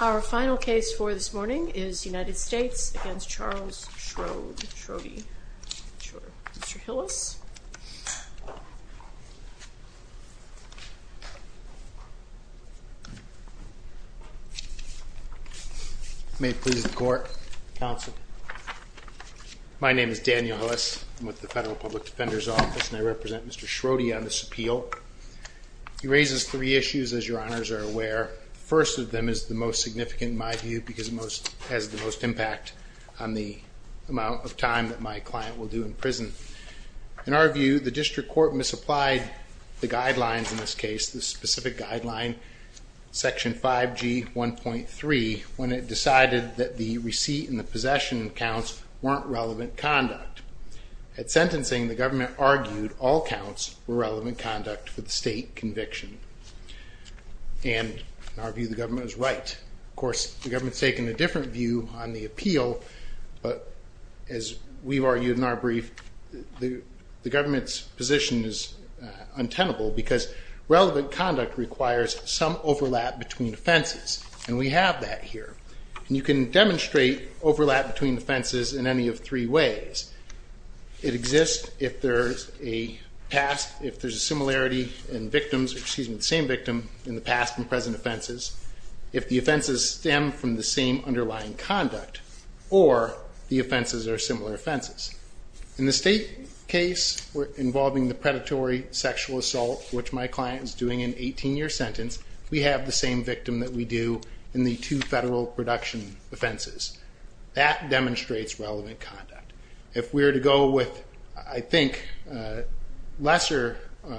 Our final case for this morning is United States v. Charles Schrode, Schrode, sure. Mr. Hillis. May it please the court, counsel. My name is Daniel Hillis. I'm with the Federal Public Service, and I'm here to discuss three issues, as your honors are aware. The first of them is the most significant, in my view, because it has the most impact on the amount of time that my client will do in prison. In our view, the district court misapplied the guidelines in this case, the specific guideline, Section 5G 1.3, when it decided that the receipt and the possession counts weren't relevant conduct. At sentencing, the government argued all counts were relevant conduct for the state conviction. And in our view, the government is right. Of course, the government's taken a different view on the appeal, but as we've argued in our brief, the government's position is untenable, because relevant conduct requires some overlap between offenses, and we have that here. And you can demonstrate overlap between offenses in any of three ways. It exists if there's a past, if there's a similarity in victims, excuse me, the same victim in the past and present offenses, if the offenses stem from the same underlying conduct, or the offenses are similar offenses. In the state case involving the predatory sexual assault, which my client is doing an 18-year sentence, we have the same victim that we do in the two federal production offenses. That demonstrates relevant conduct. If we were to go with, I think, lesser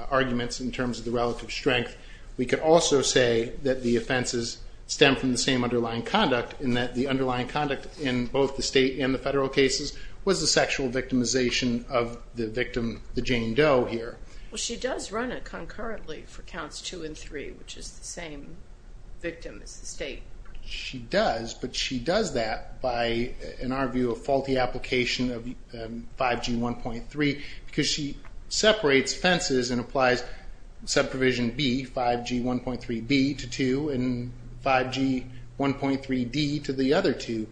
arguments in terms of the relative strength, we could also say that the offenses stem from the same underlying conduct, and that the underlying conduct in both the state and the federal cases was the sexual assault. The sexual victimization of the victim, the Jane Doe, here. Well, she does run it concurrently for counts two and three, which is the same victim as the state. She does, but she does that by, in our view, a faulty application of 5G1.3, because she separates fences and applies Subprovision B, 5G1.3B, to two, and 5G1.3D to the other two.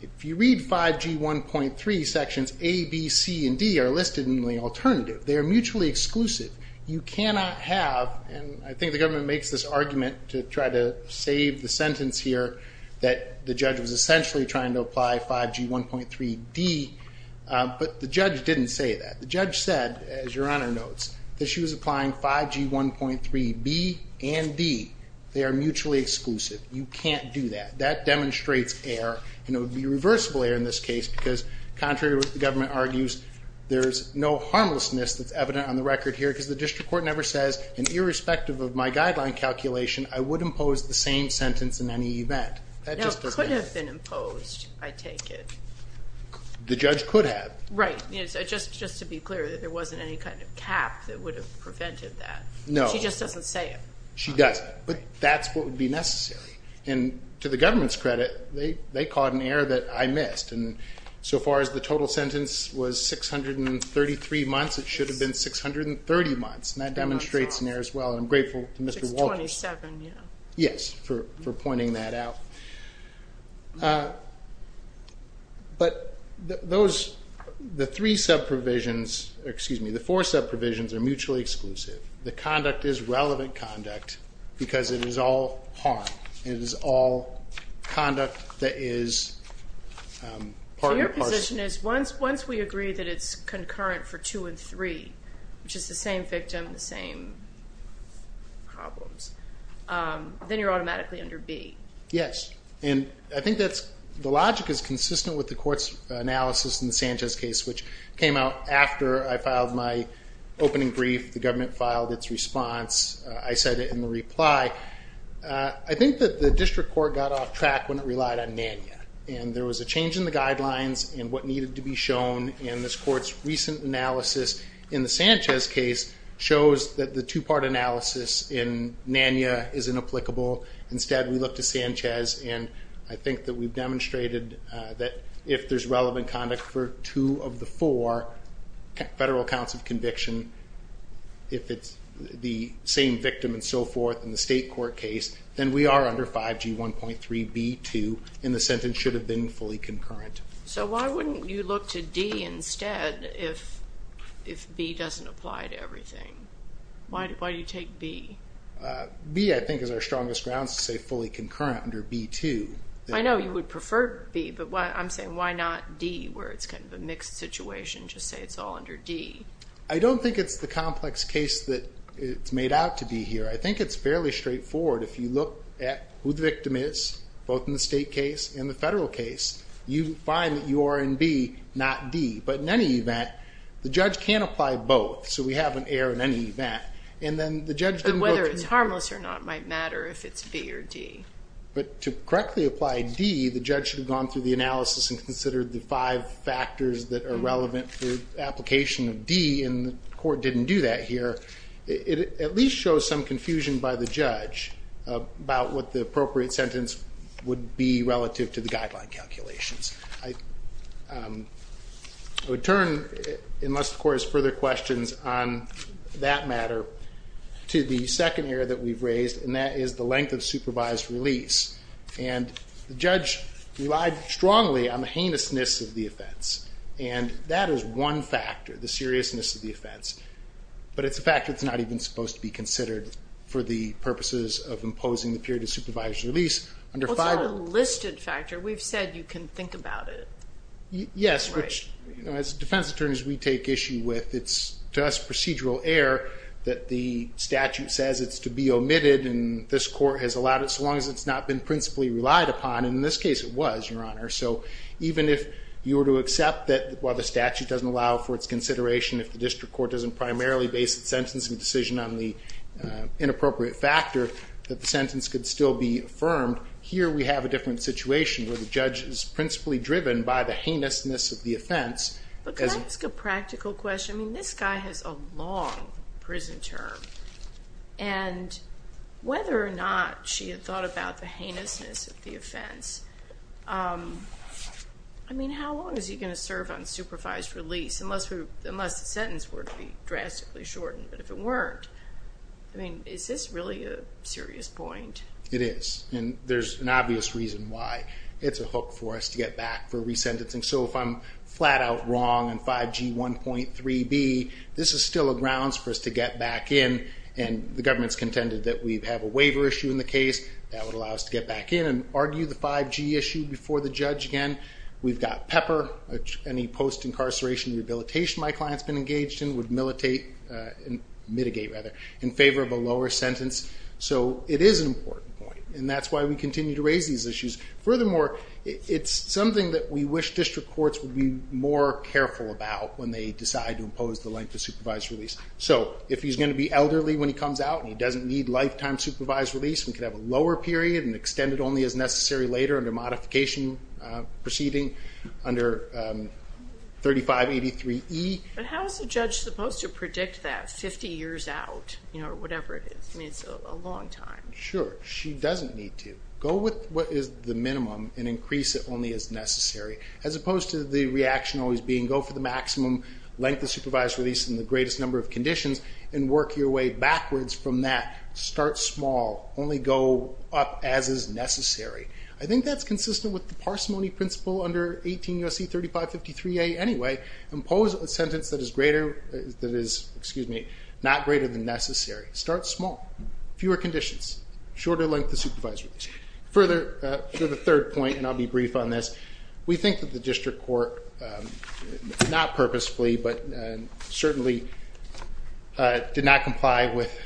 If you read 5G1.3, sections A, B, C, and D are listed in the alternative. They are mutually exclusive. You cannot have, and I think the government makes this argument to try to save the sentence here, that the judge was essentially trying to apply 5G1.3D, but the judge didn't say that. The judge said, as Your Honor notes, that she was applying 5G1.3B and D. They are mutually exclusive. You can't do that. That demonstrates error, and it would be reversible error in this case, because contrary to what the government argues, there's no harmlessness that's evident on the record here, because the district court never says, and irrespective of my guideline calculation, I would impose the same sentence in any event. No, it could have been imposed, I take it. The judge could have. Right, just to be clear, that there wasn't any kind of cap that would have prevented that. No. She just doesn't say it. She doesn't, but that's what would be necessary, and to the government's credit, they caught an error that I missed, and so far as the total sentence was 633 months, it should have been 630 months, and that demonstrates an error as well, and I'm grateful to Mr. Walters. 627, yeah. Yes, for pointing that out. But those, the three sub-provisions, excuse me, the four sub-provisions are mutually exclusive. The conduct is relevant conduct, because it is all harm. It is all conduct that is part and parcel. My question is, once we agree that it's concurrent for two and three, which is the same victim, the same problems, then you're automatically under B. Yes, and I think that the logic is consistent with the court's analysis in the Sanchez case, which came out after I filed my opening brief, the government filed its response, I said it in the reply. I think that the district court got off track when it relied on NANYA, and there was a change in the guidelines and what needed to be shown, and this court's recent analysis in the Sanchez case shows that the two-part analysis in NANYA is inapplicable. Instead, we look to Sanchez, and I think that we've demonstrated that if there's relevant conduct for two of the four federal counts of conviction, if it's the same victim and so forth in the state court case, then we are under 5G1.3B2, and the sentence should have been fully concurrent. So why wouldn't you look to D instead if B doesn't apply to everything? Why do you take B? B, I think, is our strongest grounds to say fully concurrent under B2. I know you would prefer B, but I'm saying why not D, where it's kind of a mixed situation, just say it's all under D? I don't think it's the complex case that it's made out to be here. I think it's fairly straightforward. If you look at who the victim is, both in the state case and the federal case, you find that you are in B, not D. But in any event, the judge can't apply both, so we have an error in any event. But whether it's harmless or not might matter if it's B or D. But to correctly apply D, the judge should have gone through the analysis and considered the five factors that are relevant for application of D, and the court didn't do that here. It at least shows some confusion by the judge about what the appropriate sentence would be relative to the guideline calculations. I would turn, unless the court has further questions on that matter, to the second error that we've raised, and that is the length of supervised release. And the judge relied strongly on the heinousness of the offense. And that is one factor, the seriousness of the offense. But it's a factor that's not even supposed to be considered for the purposes of imposing the period of supervised release. Well, it's not a listed factor. We've said you can think about it. Yes, which, as defense attorneys, we take issue with. It's to us procedural error that the statute says it's to be omitted, and this court has allowed it so long as it's not been principally relied upon. And in this case, it was, Your Honor. So even if you were to accept that while the statute doesn't allow for its consideration, if the district court doesn't primarily base its sentencing decision on the inappropriate factor, that the sentence could still be affirmed, here we have a different situation where the judge is principally driven by the heinousness of the offense. But can I ask a practical question? I mean, this guy has a long prison term, and whether or not she had thought about the heinousness of the offense, I mean, how long is he going to serve on supervised release unless the sentence were to be drastically shortened? But if it weren't, I mean, is this really a serious point? It is, and there's an obvious reason why. It's a hook for us to get back for resentencing. So if I'm flat out wrong in 5G 1.3b, this is still a grounds for us to get back in, and the government's contended that we have a waiver issue in the case. That would allow us to get back in and argue the 5G issue before the judge again. We've got Pepper. Any post-incarceration rehabilitation my client's been engaged in would mitigate in favor of a lower sentence. So it is an important point, and that's why we continue to raise these issues. Furthermore, it's something that we wish district courts would be more careful about when they decide to impose the length of supervised release. So if he's going to be elderly when he comes out and he doesn't need lifetime supervised release, we could have a lower period and extend it only as necessary later under modification proceeding under 3583E. But how is the judge supposed to predict that 50 years out or whatever it is? I mean, it's a long time. Sure. She doesn't need to. Go with what is the minimum and increase it only as necessary, as opposed to the reaction always being go for the maximum length of supervised release in the greatest number of conditions and work your way backwards from that. Start small. Only go up as is necessary. I think that's consistent with the parsimony principle under 18 U.S.C. 3553A anyway. Impose a sentence that is not greater than necessary. Start small. Fewer conditions. Shorter length of supervised release. Further, for the third point, and I'll be brief on this, we think that the district court, not purposefully, but certainly did not comply with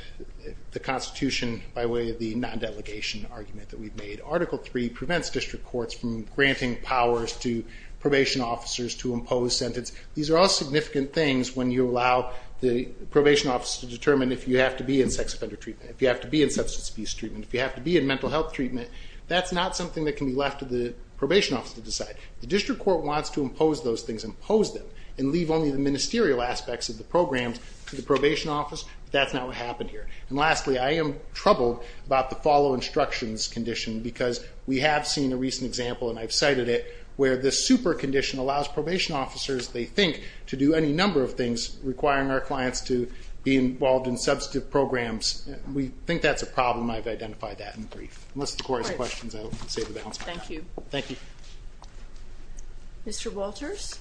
the Constitution by way of the non-delegation argument that we've made. Article III prevents district courts from granting powers to probation officers to impose sentence. These are all significant things when you allow the probation officer to determine if you have to be in sex offender treatment, if you have to be in substance abuse treatment, if you have to be in mental health treatment. That's not something that can be left to the probation officer to decide. The district court wants to impose those things, impose them, and leave only the ministerial aspects of the programs to the probation office. That's not what happened here. And lastly, I am troubled about the follow instructions condition because we have seen a recent example, and I've cited it, where the super condition allows probation officers, they think, to do any number of things requiring our clients to be involved in substantive programs. We think that's a problem. I've identified that in the brief. Unless the court has questions, I'll save the balance for now. Thank you. Thank you. Mr. Walters?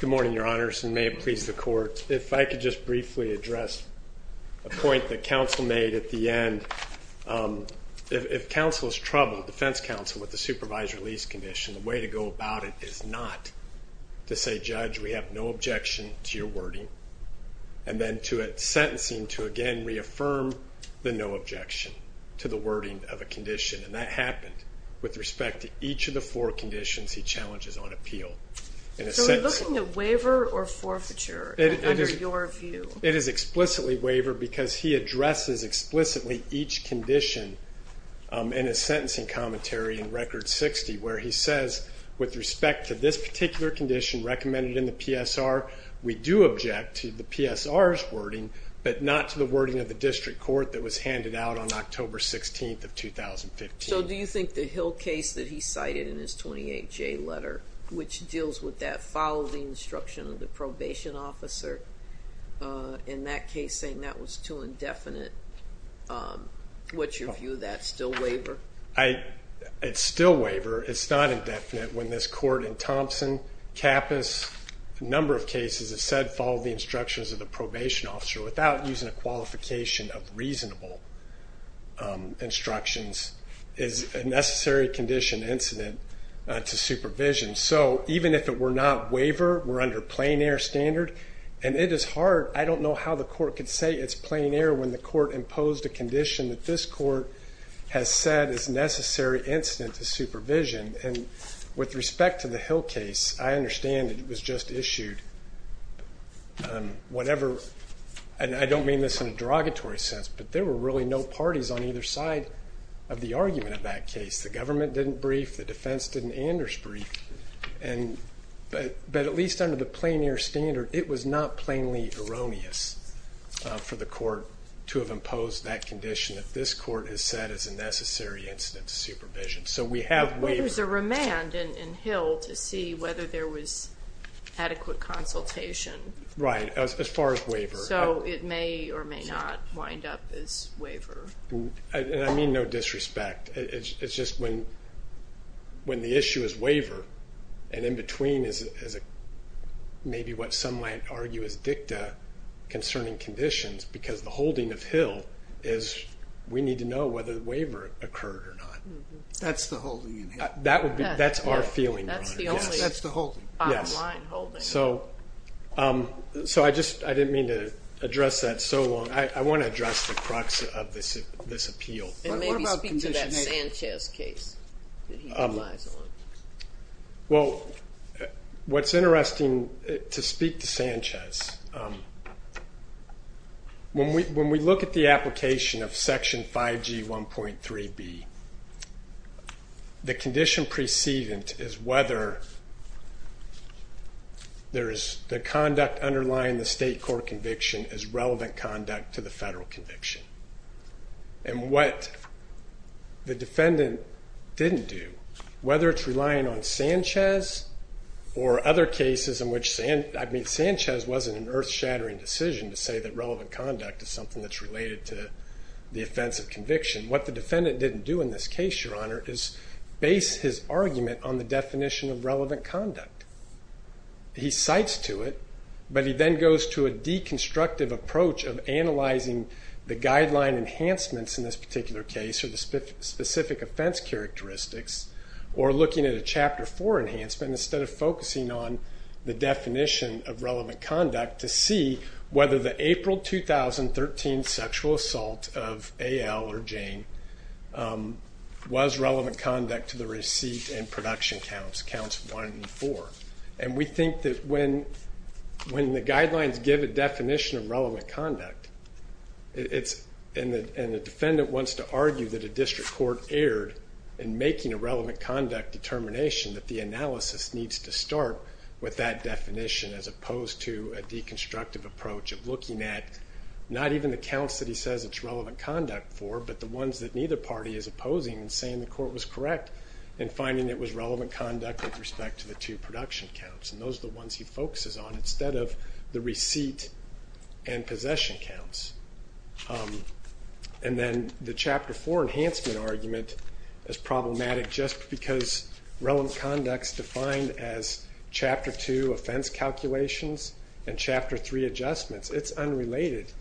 Good morning, Your Honors, and may it please the Court. If I could just briefly address a point that counsel made at the end. If counsel is troubled, defense counsel, with the supervised release condition, the way to go about it is not to say, Judge, we have no objection to your wording, and then to a sentencing to, again, reaffirm the no objection to the wording of a condition. And that happened with respect to each of the four conditions he challenges on appeal. So we're looking at waiver or forfeiture under your view? It is explicitly waiver because he addresses explicitly each condition in his sentencing commentary in Record 60, where he says, with respect to this particular condition recommended in the PSR, we do object to the PSR's wording, but not to the wording of the district court that was handed out on October 16th of 2015. So do you think the Hill case that he cited in his 28J letter, which deals with that follow the instruction of the probation officer, in that case saying that was too indefinite, what's your view of that? Still waiver? It's still waiver. It's not indefinite. When this court in Thompson, Kappus, a number of cases, has said follow the instructions of the probation officer without using a qualification of reasonable instructions, is a necessary condition incident to supervision. So even if it were not waiver, we're under plain air standard. And it is hard. I don't know how the court could say it's plain air when the court imposed a condition that this court has said is a necessary incident to supervision. And with respect to the Hill case, I understand it was just issued whatever, and I don't mean this in a derogatory sense, but there were really no parties on either side of the argument of that case. The government didn't brief. The defense didn't. Anders briefed. But at least under the plain air standard, it was not plainly erroneous for the court to have imposed that condition that this court has said is a necessary incident to supervision. So we have waiver. Well, there's a remand in Hill to see whether there was adequate consultation. Right, as far as waiver. So it may or may not wind up as waiver. And I mean no disrespect. It's just when the issue is waiver, and in between is maybe what some might argue is dicta concerning conditions, because the holding of Hill is we need to know whether the waiver occurred or not. That's the holding in Hill. That's our feeling. That's the only bottom line holding. So I just didn't mean to address that so long. I want to address the crux of this appeal. And maybe speak to that Sanchez case that he relies on. Well, what's interesting to speak to Sanchez, when we look at the application of Section 5G 1.3b, the condition precedent is whether the conduct underlying the state court conviction is relevant conduct to the federal conviction. And what the defendant didn't do, whether it's relying on Sanchez or other cases in which Sanchez wasn't an earth-shattering decision to say that relevant conduct is something that's related to the offense of conviction. What the defendant didn't do in this case, Your Honor, is base his argument on the definition of relevant conduct. He cites to it, but he then goes to a deconstructive approach of analyzing the guideline enhancements in this particular case or the specific offense characteristics, or looking at a Chapter 4 enhancement, instead of focusing on the definition of relevant conduct, to see whether the April 2013 sexual assault of A.L. or Jane was relevant conduct to the receipt and production counts, counts 1 and 4. And we think that when the guidelines give a definition of relevant conduct, and the defendant wants to argue that a district court erred in making a relevant conduct determination, that the analysis needs to start with that definition as opposed to a deconstructive approach of looking at not even the counts that he says it's relevant conduct for, but the ones that neither party is opposing and saying the court was correct in finding it was relevant conduct with respect to the two production counts. And those are the ones he focuses on instead of the receipt and possession counts. And then the Chapter 4 enhancement argument is problematic just because relevant conduct is defined as Chapter 2 offense calculations and Chapter 3 adjustments. It's unrelated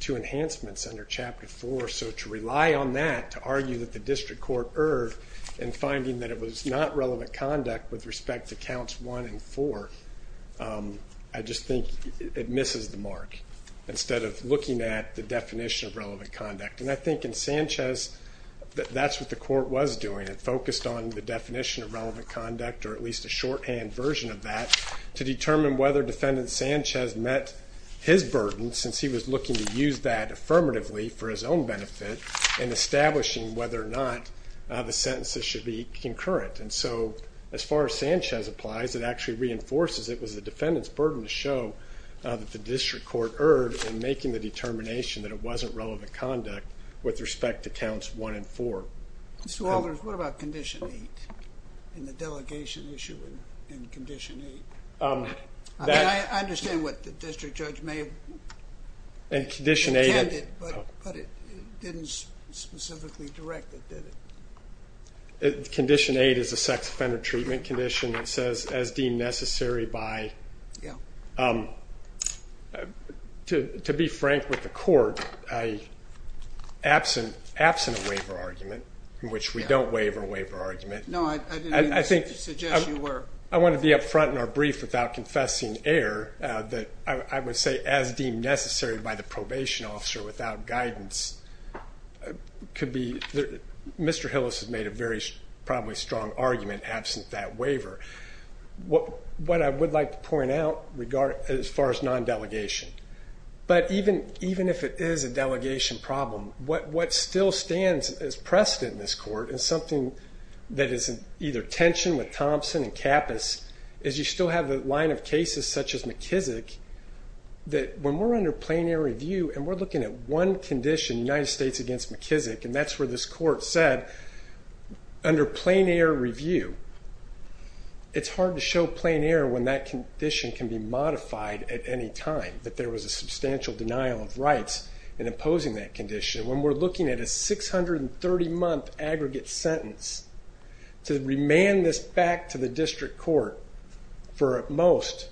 to enhancements under Chapter 4. So to rely on that to argue that the district court erred in finding that it was not relevant conduct with respect to counts 1 and 4, I just think it misses the mark. Instead of looking at the definition of relevant conduct. And I think in Sanchez, that's what the court was doing. It focused on the definition of relevant conduct, or at least a shorthand version of that, to determine whether defendant Sanchez met his burden, since he was looking to use that affirmatively for his own benefit in establishing whether or not the sentences should be concurrent. And so as far as Sanchez applies, it actually reinforces it was the defendant's burden to show that the district court erred in making the determination that it wasn't relevant conduct with respect to counts 1 and 4. Mr. Walters, what about Condition 8 in the delegation issue in Condition 8? I understand what the district judge may have intended, but it didn't specifically direct it, did it? Condition 8 is a sex offender treatment condition that says, as deemed necessary by. To be frank with the court, absent a waiver argument, in which we don't waiver a waiver argument. No, I didn't mean to suggest you were. I want to be up front in our brief without confessing error that I would say as deemed necessary by the probation officer without guidance. Mr. Hillis has made a very probably strong argument absent that waiver. What I would like to point out as far as non-delegation, but even if it is a delegation problem, what still stands as precedent in this court is something that is either tension with Thompson and Kappus, is you still have a line of cases such as McKissick, that when we're under plenary review and we're looking at one condition, United States against McKissick, and that's where this court said under plenary review, it's hard to show plenary when that condition can be modified at any time, that there was a substantial denial of rights in imposing that condition. When we're looking at a 630-month aggregate sentence to remand this back to the district court for at most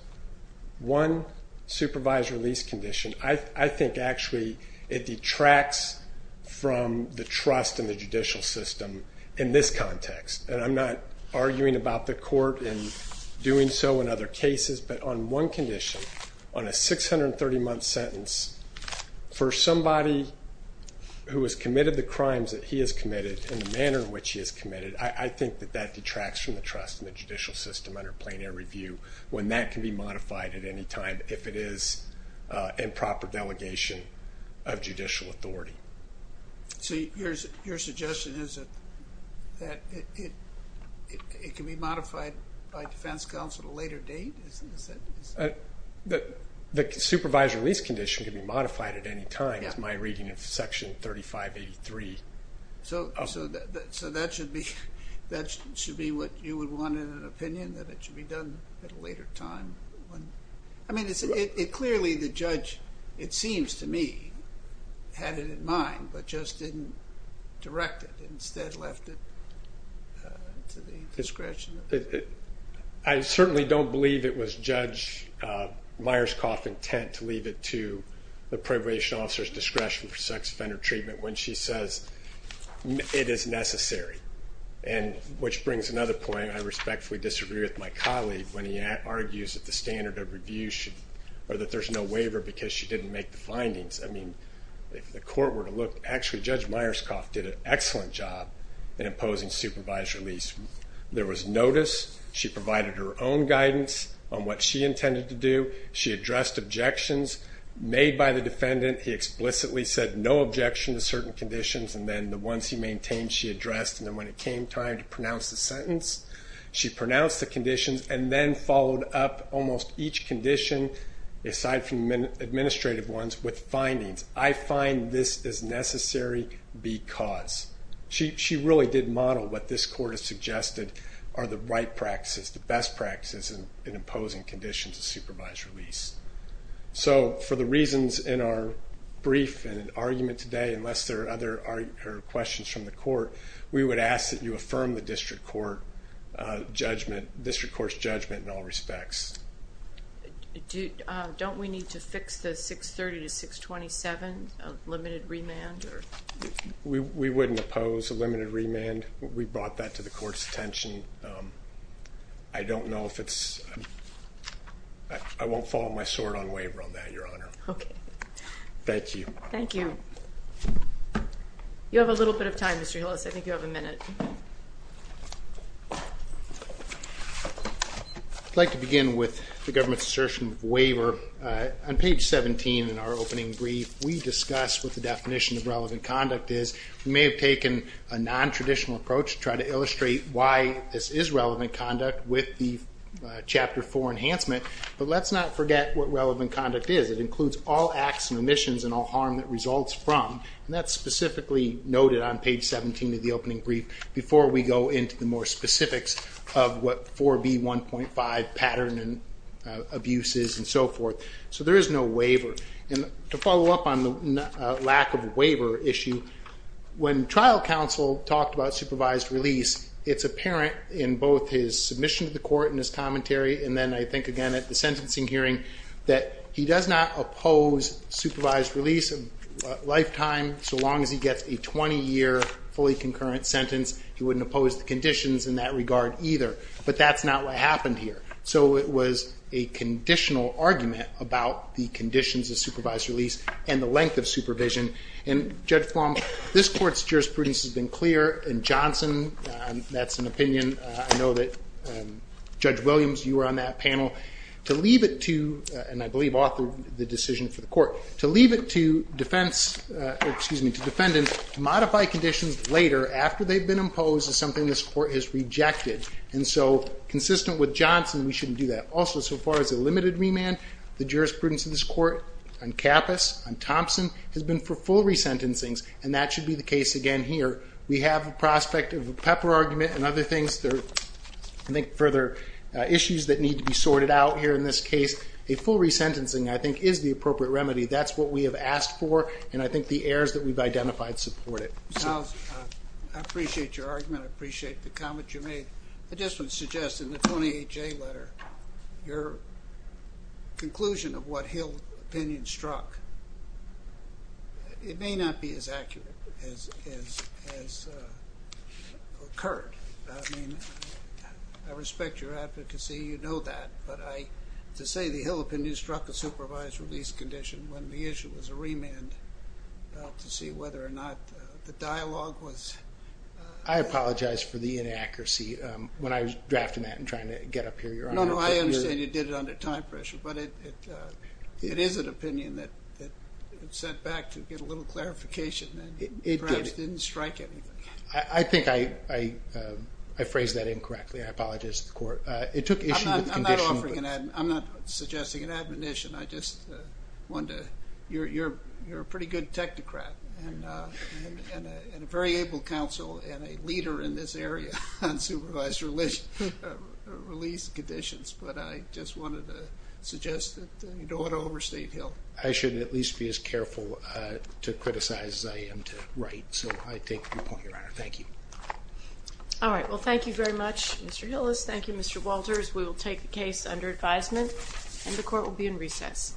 one supervised release condition, I think actually it detracts from the trust in the judicial system in this context. And I'm not arguing about the court in doing so in other cases, but on one condition, on a 630-month sentence for somebody who has committed the crimes that he has committed and the manner in which he has committed, I think that that detracts from the trust in the judicial system under plenary review when that can be modified at any time if it is improper delegation of judicial authority. So your suggestion is that it can be modified by defense counsel at a later date? The supervised release condition can be modified at any time is my reading of Section 3583. So that should be what you would want in an opinion, that it should be done at a later time? I mean, clearly the judge, it seems to me, had it in mind, but just didn't direct it, instead left it to the discretion. I certainly don't believe it was Judge Myerscough's intent to leave it to the probation officer's discretion for sex offender treatment when she says it is necessary, which brings another point. I respectfully disagree with my colleague when he argues that the standard of review should, or that there's no waiver because she didn't make the findings. I mean, if the court were to look, actually Judge Myerscough did an excellent job in imposing supervised release. There was notice. She provided her own guidance on what she intended to do. She addressed objections made by the defendant. He explicitly said no objection to certain conditions, and then the ones he maintained she addressed. And then when it came time to pronounce the sentence, she pronounced the conditions and then followed up almost each condition, aside from administrative ones, with findings. I find this is necessary because. She really did model what this court has suggested are the right practices, the best practices in imposing conditions of supervised release. So for the reasons in our brief and argument today, unless there are other questions from the court, we would ask that you affirm the district court's judgment in all respects. Don't we need to fix the 630 to 627, a limited remand? We wouldn't oppose a limited remand. We brought that to the court's attention. I don't know if it's. I won't fall on my sword on waiver on that, Your Honor. Okay. Thank you. Thank you. You have a little bit of time, Mr. Hillis. I think you have a minute. I'd like to begin with the government's assertion of waiver. On page 17 in our opening brief, we discussed what the definition of relevant conduct is. We may have taken a nontraditional approach to try to illustrate why this is relevant conduct with the Chapter 4 enhancement, but let's not forget what relevant conduct is. It includes all acts and omissions and all harm that results from, and that's specifically noted on page 17 of the opening brief before we go into the more specifics of what 4B1.5 pattern and abuse is and so forth. So there is no waiver. To follow up on the lack of a waiver issue, when trial counsel talked about supervised release, it's apparent in both his submission to the court and his commentary, and then I think again at the sentencing hearing, that he does not oppose supervised release a lifetime, so long as he gets a 20-year fully concurrent sentence, he wouldn't oppose the conditions in that regard either. But that's not what happened here. So it was a conditional argument about the conditions of supervised release and the length of supervision. And Judge Flom, this Court's jurisprudence has been clear, and Johnson, that's an opinion I know that Judge Williams, you were on that panel, to leave it to, and I believe authored the decision for the Court, to leave it to defendants to modify conditions later after they've been imposed is something this Court has rejected. And so consistent with Johnson, we shouldn't do that. Also, so far as a limited remand, the jurisprudence of this Court, on Kappus, on Thompson, has been for full resentencings, and that should be the case again here. We have a prospect of a pepper argument and other things, I think further issues that need to be sorted out here in this case. A full resentencing, I think, is the appropriate remedy. That's what we have asked for, and I think the errors that we've identified support it. I appreciate your argument. I appreciate the comment you made. I just would suggest in the 28J letter, your conclusion of what Hill opinion struck, it may not be as accurate as occurred. I mean, I respect your advocacy. You know that. But to say the Hill opinion struck a supervised release condition when the issue was a remand to see whether or not the dialogue was... I apologize for the inaccuracy. When I was drafting that and trying to get up here, Your Honor... No, no, I understand you did it under time pressure. But it is an opinion that was sent back to get a little clarification, and perhaps didn't strike anything. I think I phrased that incorrectly. I apologize to the Court. It took issue with the condition... I'm not offering an admonition. I'm not suggesting an admonition. I just wanted to... You're a pretty good technocrat and a very able counsel and a leader in this area on supervised release conditions. But I just wanted to suggest that you don't want to overstate Hill. I should at least be as careful to criticize as I am to write. So I take your point, Your Honor. Thank you. All right. Well, thank you very much, Mr. Hillis. Thank you, Mr. Walters. We will take the case under advisement, and the Court will be in recess.